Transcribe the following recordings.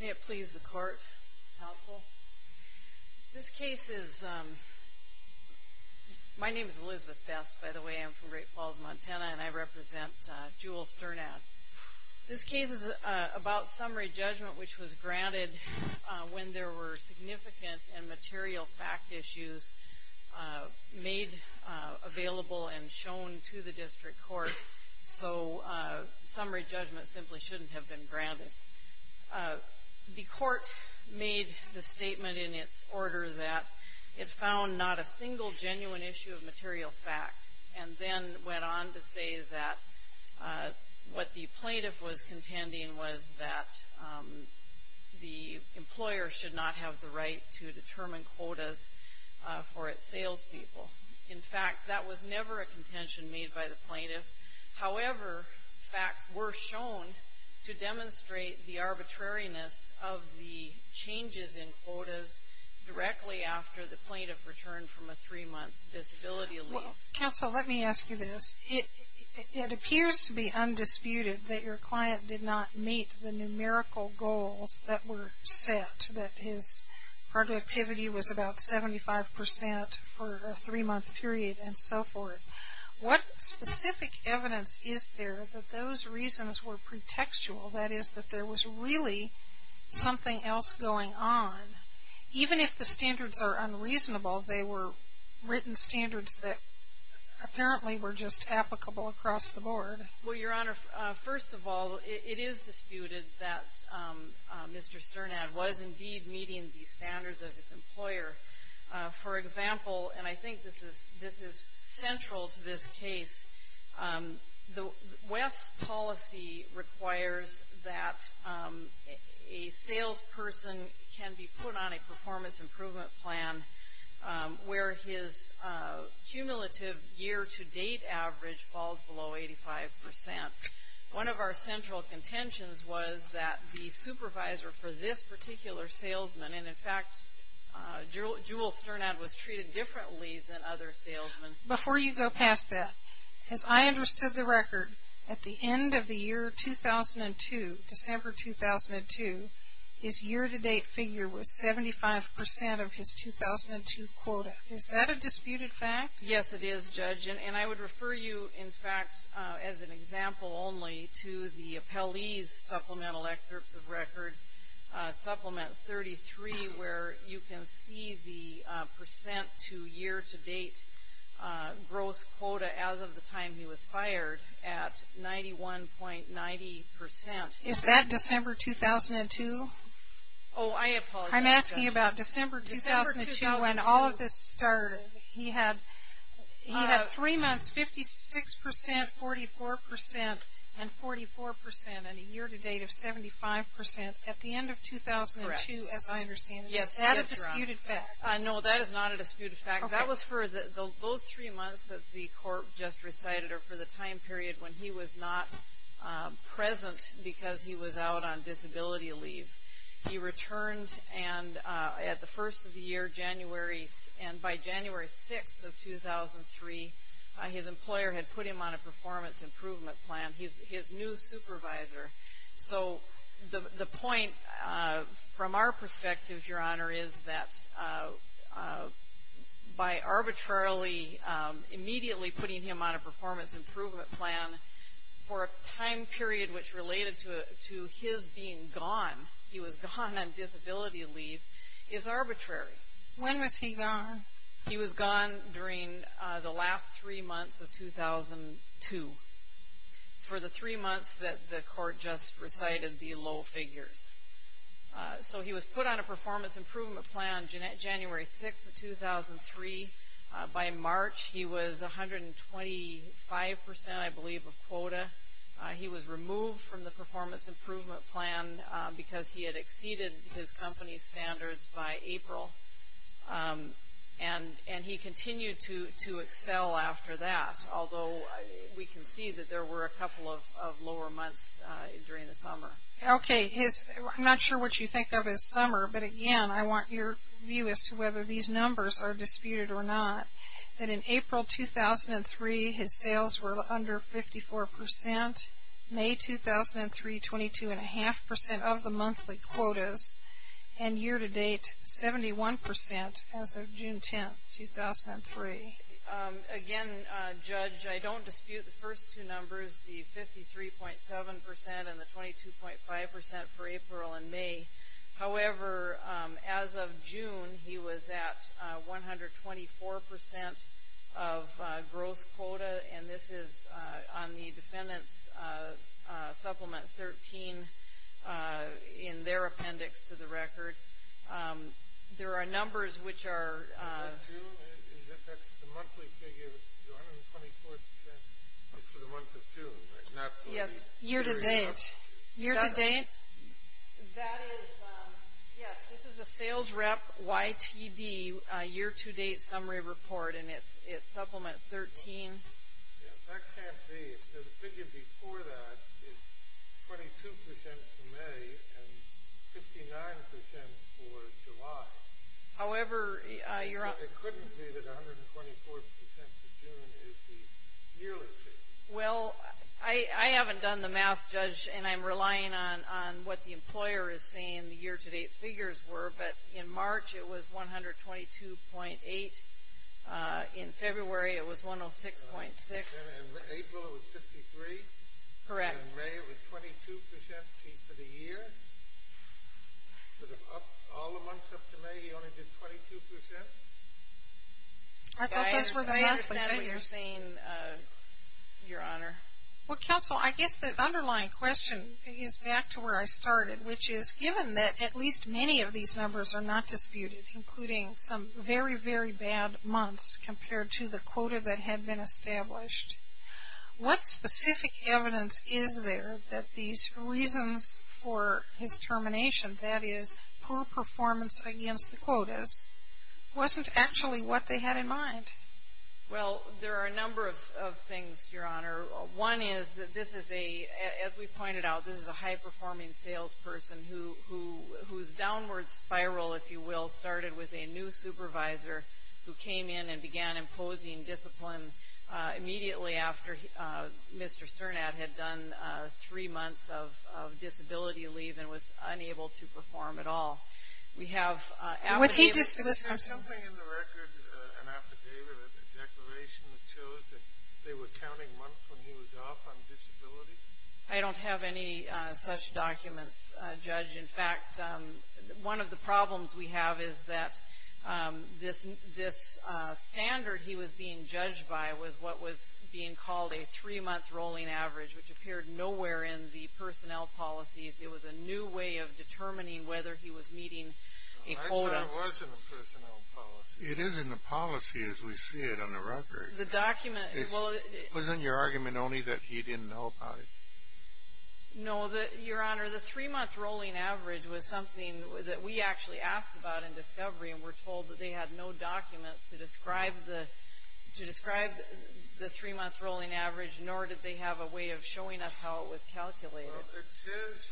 May it please the Court, Counsel. This case is, my name is Elizabeth Best, by the way, I'm from Great Falls, Montana, and I represent Jewel Sternad. This case is about summary judgment which was granted when there were significant and material fact issues made available and shown to the District Court, so summary judgment simply shouldn't have been granted. The Court made the statement in its order that it found not a single genuine issue of material fact and then went on to say that what the plaintiff was contending was that the employer should not have the right to determine quotas for its salespeople. In fact, that was never a demonstrate the arbitrariness of the changes in quotas directly after the plaintiff returned from a three-month disability leave. Counsel, let me ask you this. It appears to be undisputed that your client did not meet the numerical goals that were set, that his productivity was about 75% for a three-month period and so forth. What specific evidence is there that those reasons were pretextual, that is, that there was really something else going on? Even if the standards are unreasonable, they were written standards that apparently were just applicable across the board. Well, Your Honor, first of all, it is disputed that Mr. Sternad was indeed meeting the standards of his employer. For example, and I think this is central to this case, the West's policy requires that a salesperson can be put on a performance improvement plan where his cumulative year-to-date average falls below 85%. One of our central contentions was that the supervisor for this particular salesman, and in fact, Jewel Sternad was treated differently than other salesmen. Before you go past that, as I understood the record, at the end of the year 2002, December 2002, his year-to-date figure was 75% of his 2002 quota. Is that a disputed fact? Yes, it is, Judge. And I would refer you, in fact, as an example only to the Supplement 33, where you can see the percent to year-to-date growth quota as of the time he was fired at 91.90%. Is that December 2002? Oh, I apologize, Judge. I'm asking about December 2002 when all of this started. He had three months, 56%, 44%, and 44%, and a year-to-date of 75% at the end of 2002, as I understand it. Is that a disputed fact? No, that is not a disputed fact. That was for those three months that the court just recited, or for the time period when he was not present because he was out on disability leave. He returned at the first of the year, January, and by January 6th of 2003, his employer had put him on a performance improvement plan. He's his new supervisor. So the point, from our perspective, Your Honor, is that by arbitrarily immediately putting him on a performance improvement plan for a time period which related to his being gone, he was gone on disability leave, is arbitrary. When was he gone? He was gone during the last three months of 2002, for the three months that the court just recited the low figures. So he was put on a performance improvement plan January 6th of 2003. By March, he was 125%, I believe, of quota. He was removed from the performance improvement plan because he had exceeded his company's by April. And he continued to excel after that, although we can see that there were a couple of lower months during the summer. Okay. I'm not sure what you think of as summer, but again, I want your view as to whether these numbers are disputed or not. That in April 2003, his sales were at 71% as of June 10th, 2003. Again, Judge, I don't dispute the first two numbers, the 53.7% and the 22.5% for April and May. However, as of June, he was at 124% of growth quota, and this is on the defendant's Supplement 13 in their appendix to the record. There are numbers which are... Is that true? That's the monthly figure, the 124% is for the month of June, right? Yes. Year-to-date. Year-to-date. That is, yes, this is the sales rep YTD year-to-date summary report, and it's Supplement 13. That can't be. The figure before that is 22% for May and 59% for July. However, you're... So it couldn't be that 124% for June is the yearly figure. Well, I haven't done the math, Judge, and I'm relying on what the employer is saying, and the year-to-date figures were, but in March, it was 122.8. In February, it was 106.6. And April, it was 53. Correct. And May, it was 22% for the year. But all the months up to May, he only did 22%. I thought those were the monthly figures. I understand what you're saying, Your Honor. Well, Counsel, I guess the underlying question is back to where I started, which is, given that at least many of these numbers are not disputed, including some very, very bad months compared to the quota that had been established, what specific evidence is there that these reasons for his termination, that is, poor performance against the quotas, wasn't actually what they had in mind? Well, there are a number of things, Your Honor. One is that this is a, as we pointed out, this is a high-performing salesperson whose downward spiral, if you will, started with a new supervisor who came in and began imposing discipline immediately after Mr. Cernat had done three months of disability leave and was unable to perform at all. Was he disciplined? Is there something in the record, an affidavit, a declaration that shows that they were counting months when he was off on disability? I don't have any such documents, Judge. In fact, one of the problems we have is that this standard he was being judged by was what was being called a three-month rolling average, which appeared nowhere in the personnel policies. It was a new way of determining whether he was meeting a quota. I'm not sure it was in the personnel policy. It is in the policy as we see it on the record. The document. Wasn't your argument only that he didn't know about it? No, Your Honor. The three-month rolling average was something that we actually asked about in discovery and were told that they had no documents to describe the three-month rolling average, nor did they have a way of showing us how it was calculated. It says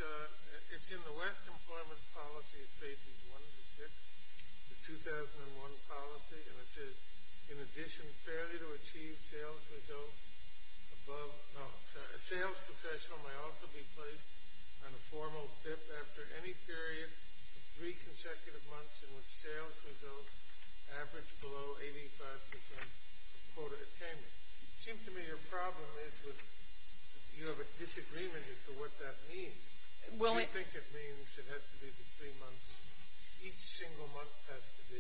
it's in the West Employment Policy, Phases 1 to 6, the 2001 policy, and it says, in addition, failure to achieve sales results above— no, sorry, a sales professional may also be placed on a formal FIF after any period of three consecutive months in which sales results average below 85 percent quota attainment. It seems to me your problem is you have a disagreement as to what that means. Do you think it means it has to be the three-month— each single month has to be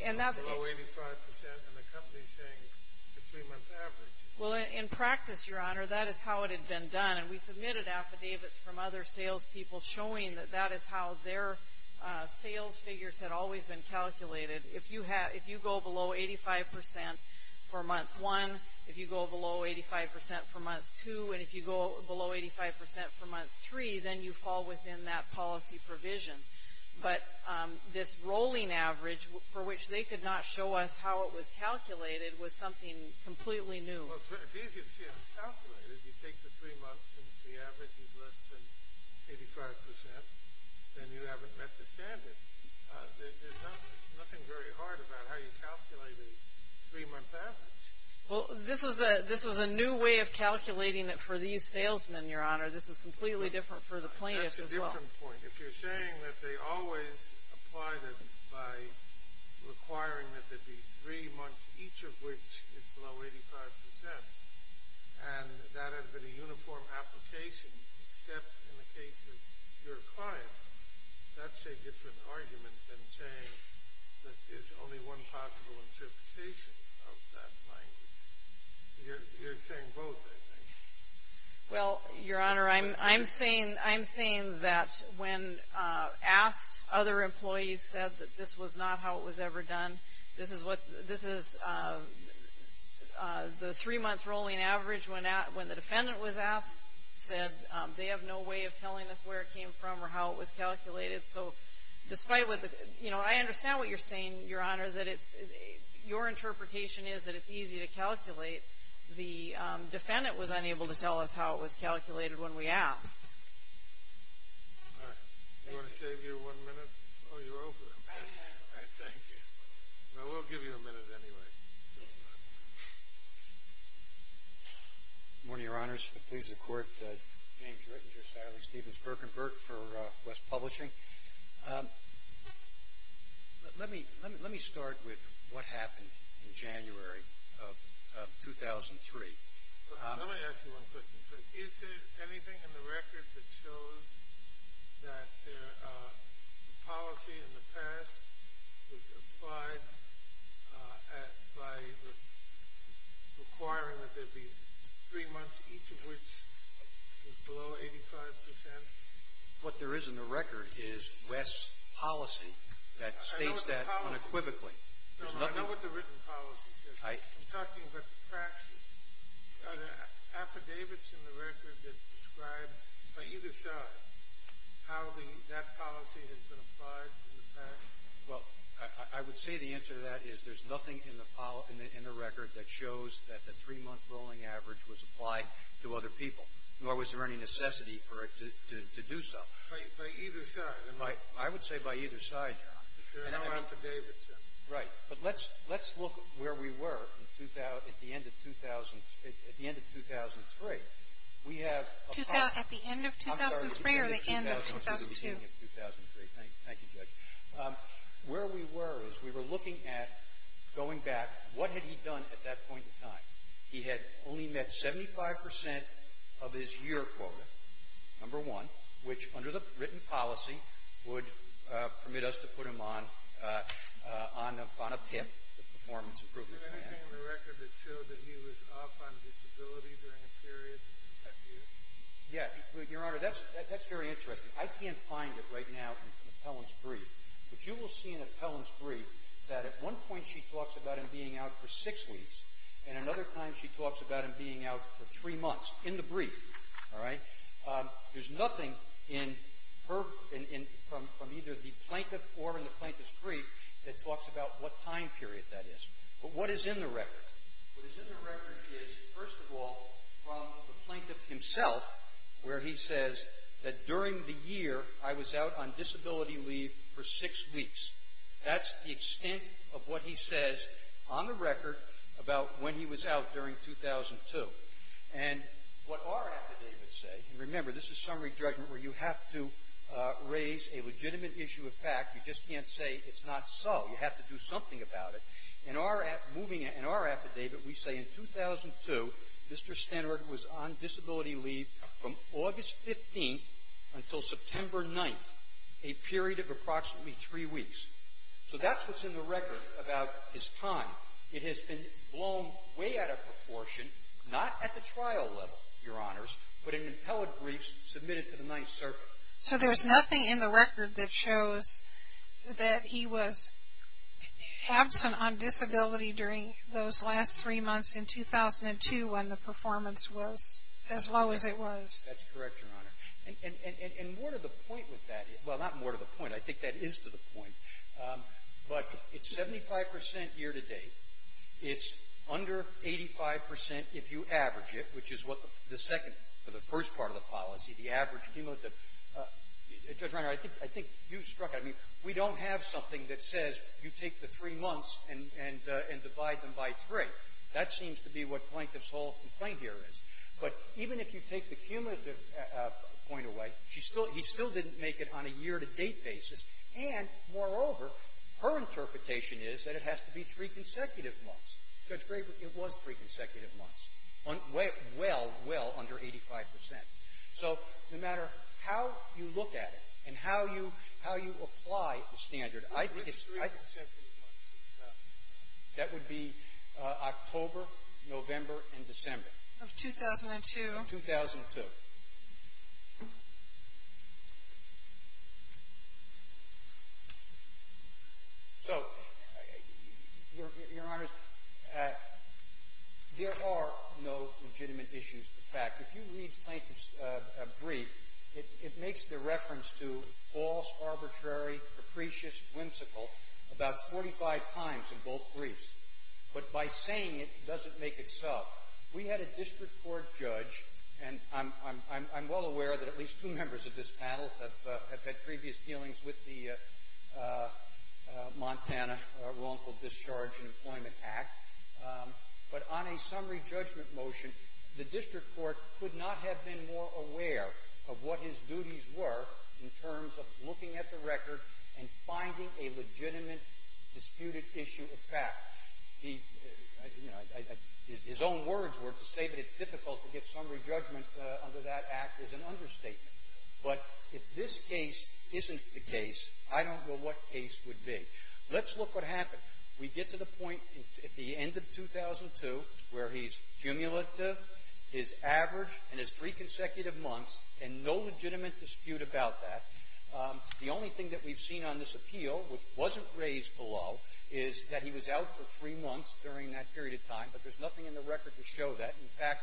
below 85 percent and the company's saying the three-month average? Well, in practice, Your Honor, that is how it had been done, and we submitted affidavits from other salespeople showing that that is how their sales figures had always been calculated. If you go below 85 percent for month one, if you go below 85 percent for month two, and if you go below 85 percent for month three, then you fall within that policy provision. But this rolling average for which they could not show us how it was calculated was something completely new. Well, it's easy to see how it's calculated. You take the three months and the average is less than 85 percent, then you haven't met the standard. There's nothing very hard about how you calculate a three-month average. Well, this was a new way of calculating it for these salesmen, Your Honor. This was completely different for the plaintiffs as well. That's a different point. If you're saying that they always applied it by requiring that there be three months, each of which is below 85 percent, and that had been a uniform application except in the case of your client, that's a different argument than saying that there's only one possible interpretation of that line. You're saying both, I think. Well, Your Honor, I'm saying that when asked, other employees said that this was not how it was ever done. This is the three-month rolling average when the defendant was asked, said they have no way of telling us where it came from or how it was calculated. I understand what you're saying, Your Honor, that your interpretation is that it's easy to calculate. The defendant was unable to tell us how it was calculated when we asked. All right. Do you want to save your one minute? Oh, you're over. All right. Thank you. We'll give you a minute anyway. Good morning, Your Honors. It pleases the Court, James Rittinger, Sally Stevens-Birkenberg for West Publishing. Let me start with what happened in January of 2003. Let me ask you one question first. Is there anything in the record that shows that the policy in the past was applied by requiring that there be three months, each of which was below 85 percent? What there is in the record is West's policy that states that unequivocally. I know what the written policy says. I'm talking about the practice. Are there affidavits in the record that describe, by either side, how that policy has been applied in the past? Well, I would say the answer to that is there's nothing in the record that shows that the three-month rolling average was applied to other people, nor was there any necessity for it to do so. By either side? I would say by either side, Your Honor. There are no affidavits then? Right. But let's look where we were at the end of 2003. We have a part of it. At the end of 2003 or the end of 2002? I'm sorry. We're talking about the beginning of 2003. Thank you, Judge. Where we were is we were looking at, going back, what had he done at that point in time. He had only met 75 percent of his year quota, number one, which, under the written policy, would permit us to put him on a PIP, the Performance Improvement Plan. Was there anything in the record that showed that he was off on disability during a period? Yes. Your Honor, that's very interesting. I can't find it right now in the appellant's brief. But you will see in the appellant's brief that at one point she talks about him being out for six weeks, and another time she talks about him being out for three months, in the brief. All right? There's nothing from either the plaintiff or in the plaintiff's brief that talks about what time period that is. But what is in the record? What is in the record is, first of all, from the plaintiff himself, where he says that during the year I was out on disability leave for six weeks. That's the extent of what he says on the record about when he was out during 2002. And what our affidavits say, and remember, this is summary judgment where you have to raise a legitimate issue of fact. You just can't say it's not so. You have to do something about it. In our affidavit, we say in 2002, Mr. Stenward was on disability leave from August 15th until September 9th, a period of approximately three weeks. So that's what's in the record about his time. It has been blown way out of proportion, not at the trial level, Your Honors, but in the appellate briefs submitted to the Ninth Circuit. So there's nothing in the record that shows that he was absent on disability during those last three months in 2002 when the performance was as low as it was. That's correct, Your Honor. And more to the point with that, well, not more to the point. I think that is to the point. But it's 75 percent year-to-date. It's under 85 percent if you average it, which is what the second or the first part of the policy, the average cumulative. Judge Reiner, I think you struck it. I mean, we don't have something that says you take the three months and divide them by three. That seems to be what Plaintiff's whole complaint here is. But even if you take the cumulative point away, he still didn't make it on a year-to-date basis. And, moreover, her interpretation is that it has to be three consecutive months. Judge Graber, it was three consecutive months. Well, well under 85 percent. So no matter how you look at it and how you apply the standard, I think it's — Three consecutive months. That would be October, November, and December. Of 2002. Of 2002. So, Your Honor, there are no legitimate issues. In fact, if you read Plaintiff's brief, it makes the reference to false, arbitrary, capricious, whimsical about 45 times in both briefs. But by saying it doesn't make it so. We had a district court judge, and I'm well aware that at least two members of this panel have had previous dealings with the Montana Wrongful Discharge and Employment Act. But on a summary judgment motion, the district court could not have been more aware of what his duties were in terms of looking at the record and finding a legitimate disputed issue. In fact, his own words were to say that it's difficult to get summary judgment under that act is an understatement. But if this case isn't the case, I don't know what case would be. Let's look what happened. We get to the point at the end of 2002 where he's cumulative, his average, and his three consecutive months, and no legitimate dispute about that. The only thing that we've seen on this appeal, which wasn't raised below, is that he was out for three months during that period of time, but there's nothing in the record to show that. In fact,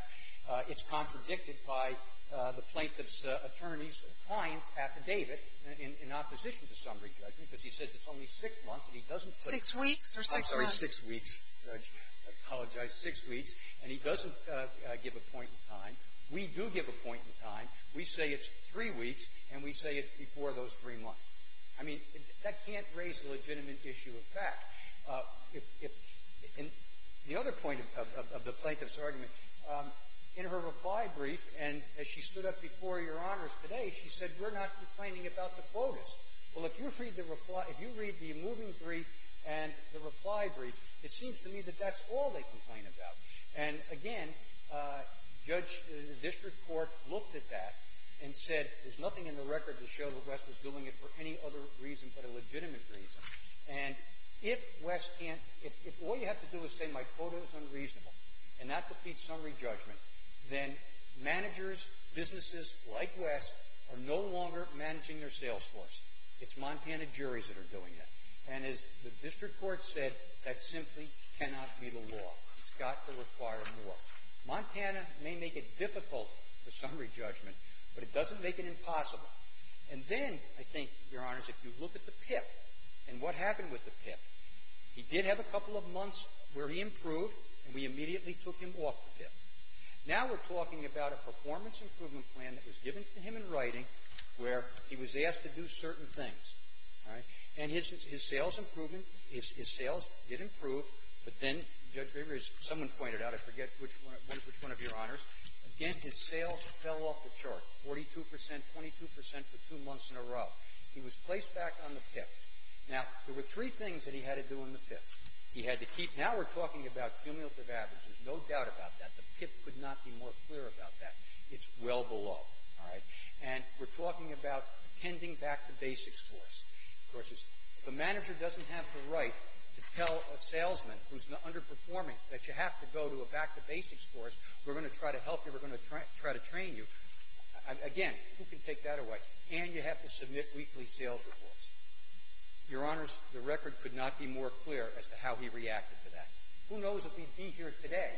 it's contradicted by the Plaintiff's attorney's client's affidavit in opposition to summary judgment, because he says it's only six months, and he doesn't put it. Six weeks or six months? I'm sorry, six weeks. I apologize. Six weeks. We do give a point in time. We say it's three weeks, and we say it's before those three months. I mean, that can't raise a legitimate issue of fact. If the other point of the Plaintiff's argument, in her reply brief, and as she stood up before Your Honors today, she said, we're not complaining about the quotas. Well, if you read the reply – if you read the moving brief and the reply brief, it seems to me that that's all they complain about. And, again, judge – the district court looked at that and said there's nothing in the record to show that West was doing it for any other reason but a legitimate reason. And if West can't – if all you have to do is say my quota is unreasonable and not defeat summary judgment, then managers, businesses like West are no longer managing their sales force. It's Montana juries that are doing it. And as the district court said, that simply cannot be the law. It's got to require more. Montana may make it difficult for summary judgment, but it doesn't make it impossible. And then, I think, Your Honors, if you look at the PIP and what happened with the PIP, he did have a couple of months where he improved, and we immediately took him off the PIP. Now we're talking about a performance improvement plan that was given to him in writing where he was asked to do certain things. All right? And his – his sales improvement – his – his sales did improve, but then, Judge Graber, as someone pointed out, I forget which one – which one of Your Honors. Again, his sales fell off the chart, 42 percent, 22 percent for two months in a row. He was placed back on the PIP. Now, there were three things that he had to do on the PIP. He had to keep – now we're talking about cumulative averages. No doubt about that. The PIP could not be more clear about that. It's well below. All right? And we're talking about tending back the basics for us. Of course, the manager doesn't have the right to tell a salesman who's underperforming that you have to go to a back-to-basics course. We're going to try to help you. We're going to try to train you. Again, who can take that away? And you have to submit weekly sales reports. Your Honors, the record could not be more clear as to how he reacted to that. Who knows if he'd be here today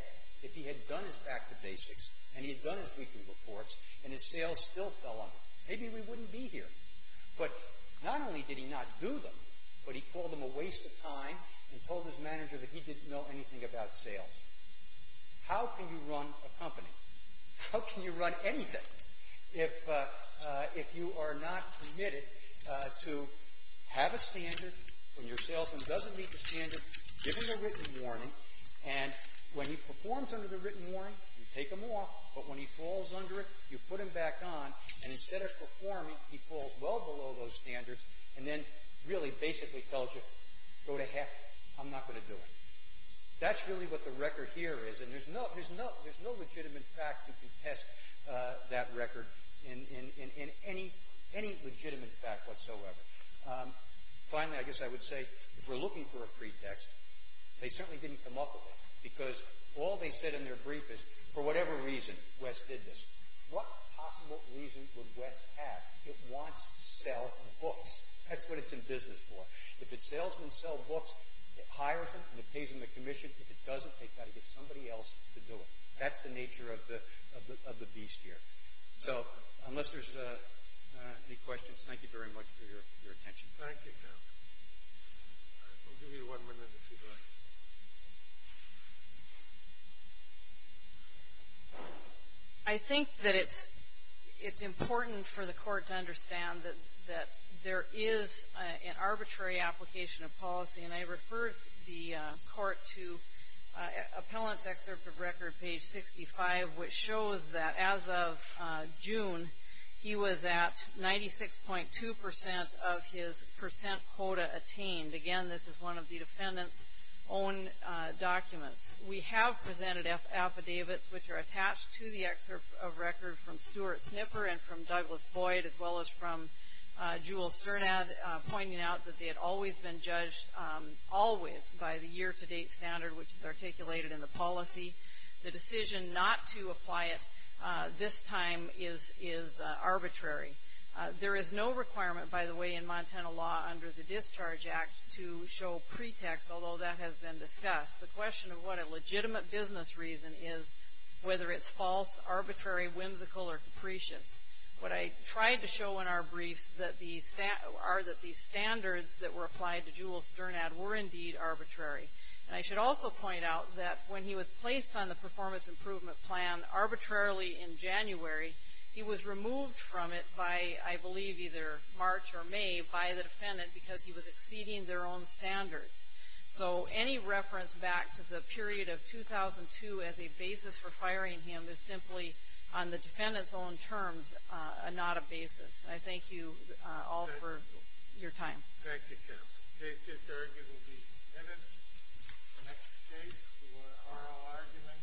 if he had done his back-to-basics and he had done his weekly reports and his sales still fell under. Maybe we wouldn't be here. But not only did he not do them, but he called them a waste of time and told his manager that he didn't know anything about sales. How can you run a company? How can you run anything if you are not committed to have a standard when your salesman doesn't meet the standard, give him a written warning, and when he performs under the written warning, you take him off, but when he falls under it, you put him back on, and instead of performing, he falls well below those standards and then really basically tells you, go to heck. I'm not going to do it. That's really what the record here is, and there's no legitimate fact that can test that record in any legitimate fact whatsoever. Finally, I guess I would say, if we're looking for a pretext, they certainly didn't come up with it because all they said in their brief is, for whatever reason, Wes did this. What possible reason would Wes have if he wants to sell books? That's what it's in business for. If a salesman sells books, it hires him, and it pays him a commission. If it doesn't, they've got to get somebody else to do it. That's the nature of the beast here. So, unless there's any questions, thank you very much for your attention. Thank you. We'll give you one more minute if you'd like. I think that it's important for the court to understand that there is an arbitrary application of policy, and I referred the court to Appellant's Excerpt of Record, page 65, which shows that as of June, he was at 96.2% of his percent quota attained. Again, this is one of the defendant's own documents. We have presented affidavits, which are attached to the Excerpt of Record from Stuart Snipper and from Douglas Boyd, as well as from Jewel Sternad, pointing out that they had always been judged, always, by the year-to-date standard, which is articulated in the policy. The decision not to apply it this time is arbitrary. There is no requirement, by the way, in Montana law under the Discharge Act to show pretext, although that has been discussed. The question of what a legitimate business reason is, whether it's false, arbitrary, whimsical, or capricious. What I tried to show in our briefs are that the standards that were applied to Jewel Sternad were indeed arbitrary. And I should also point out that when he was placed on the performance improvement plan arbitrarily in January, he was removed from it by, I believe, either March or May by the defendant because he was exceeding their own standards. So any reference back to the period of 2002 as a basis for firing him is simply, on the defendant's own terms, not a basis. I thank you all for your time. Thank you, counsel. Case case argument will be submitted. The next case for oral argument is Madam Ethelfield v. Hoffman.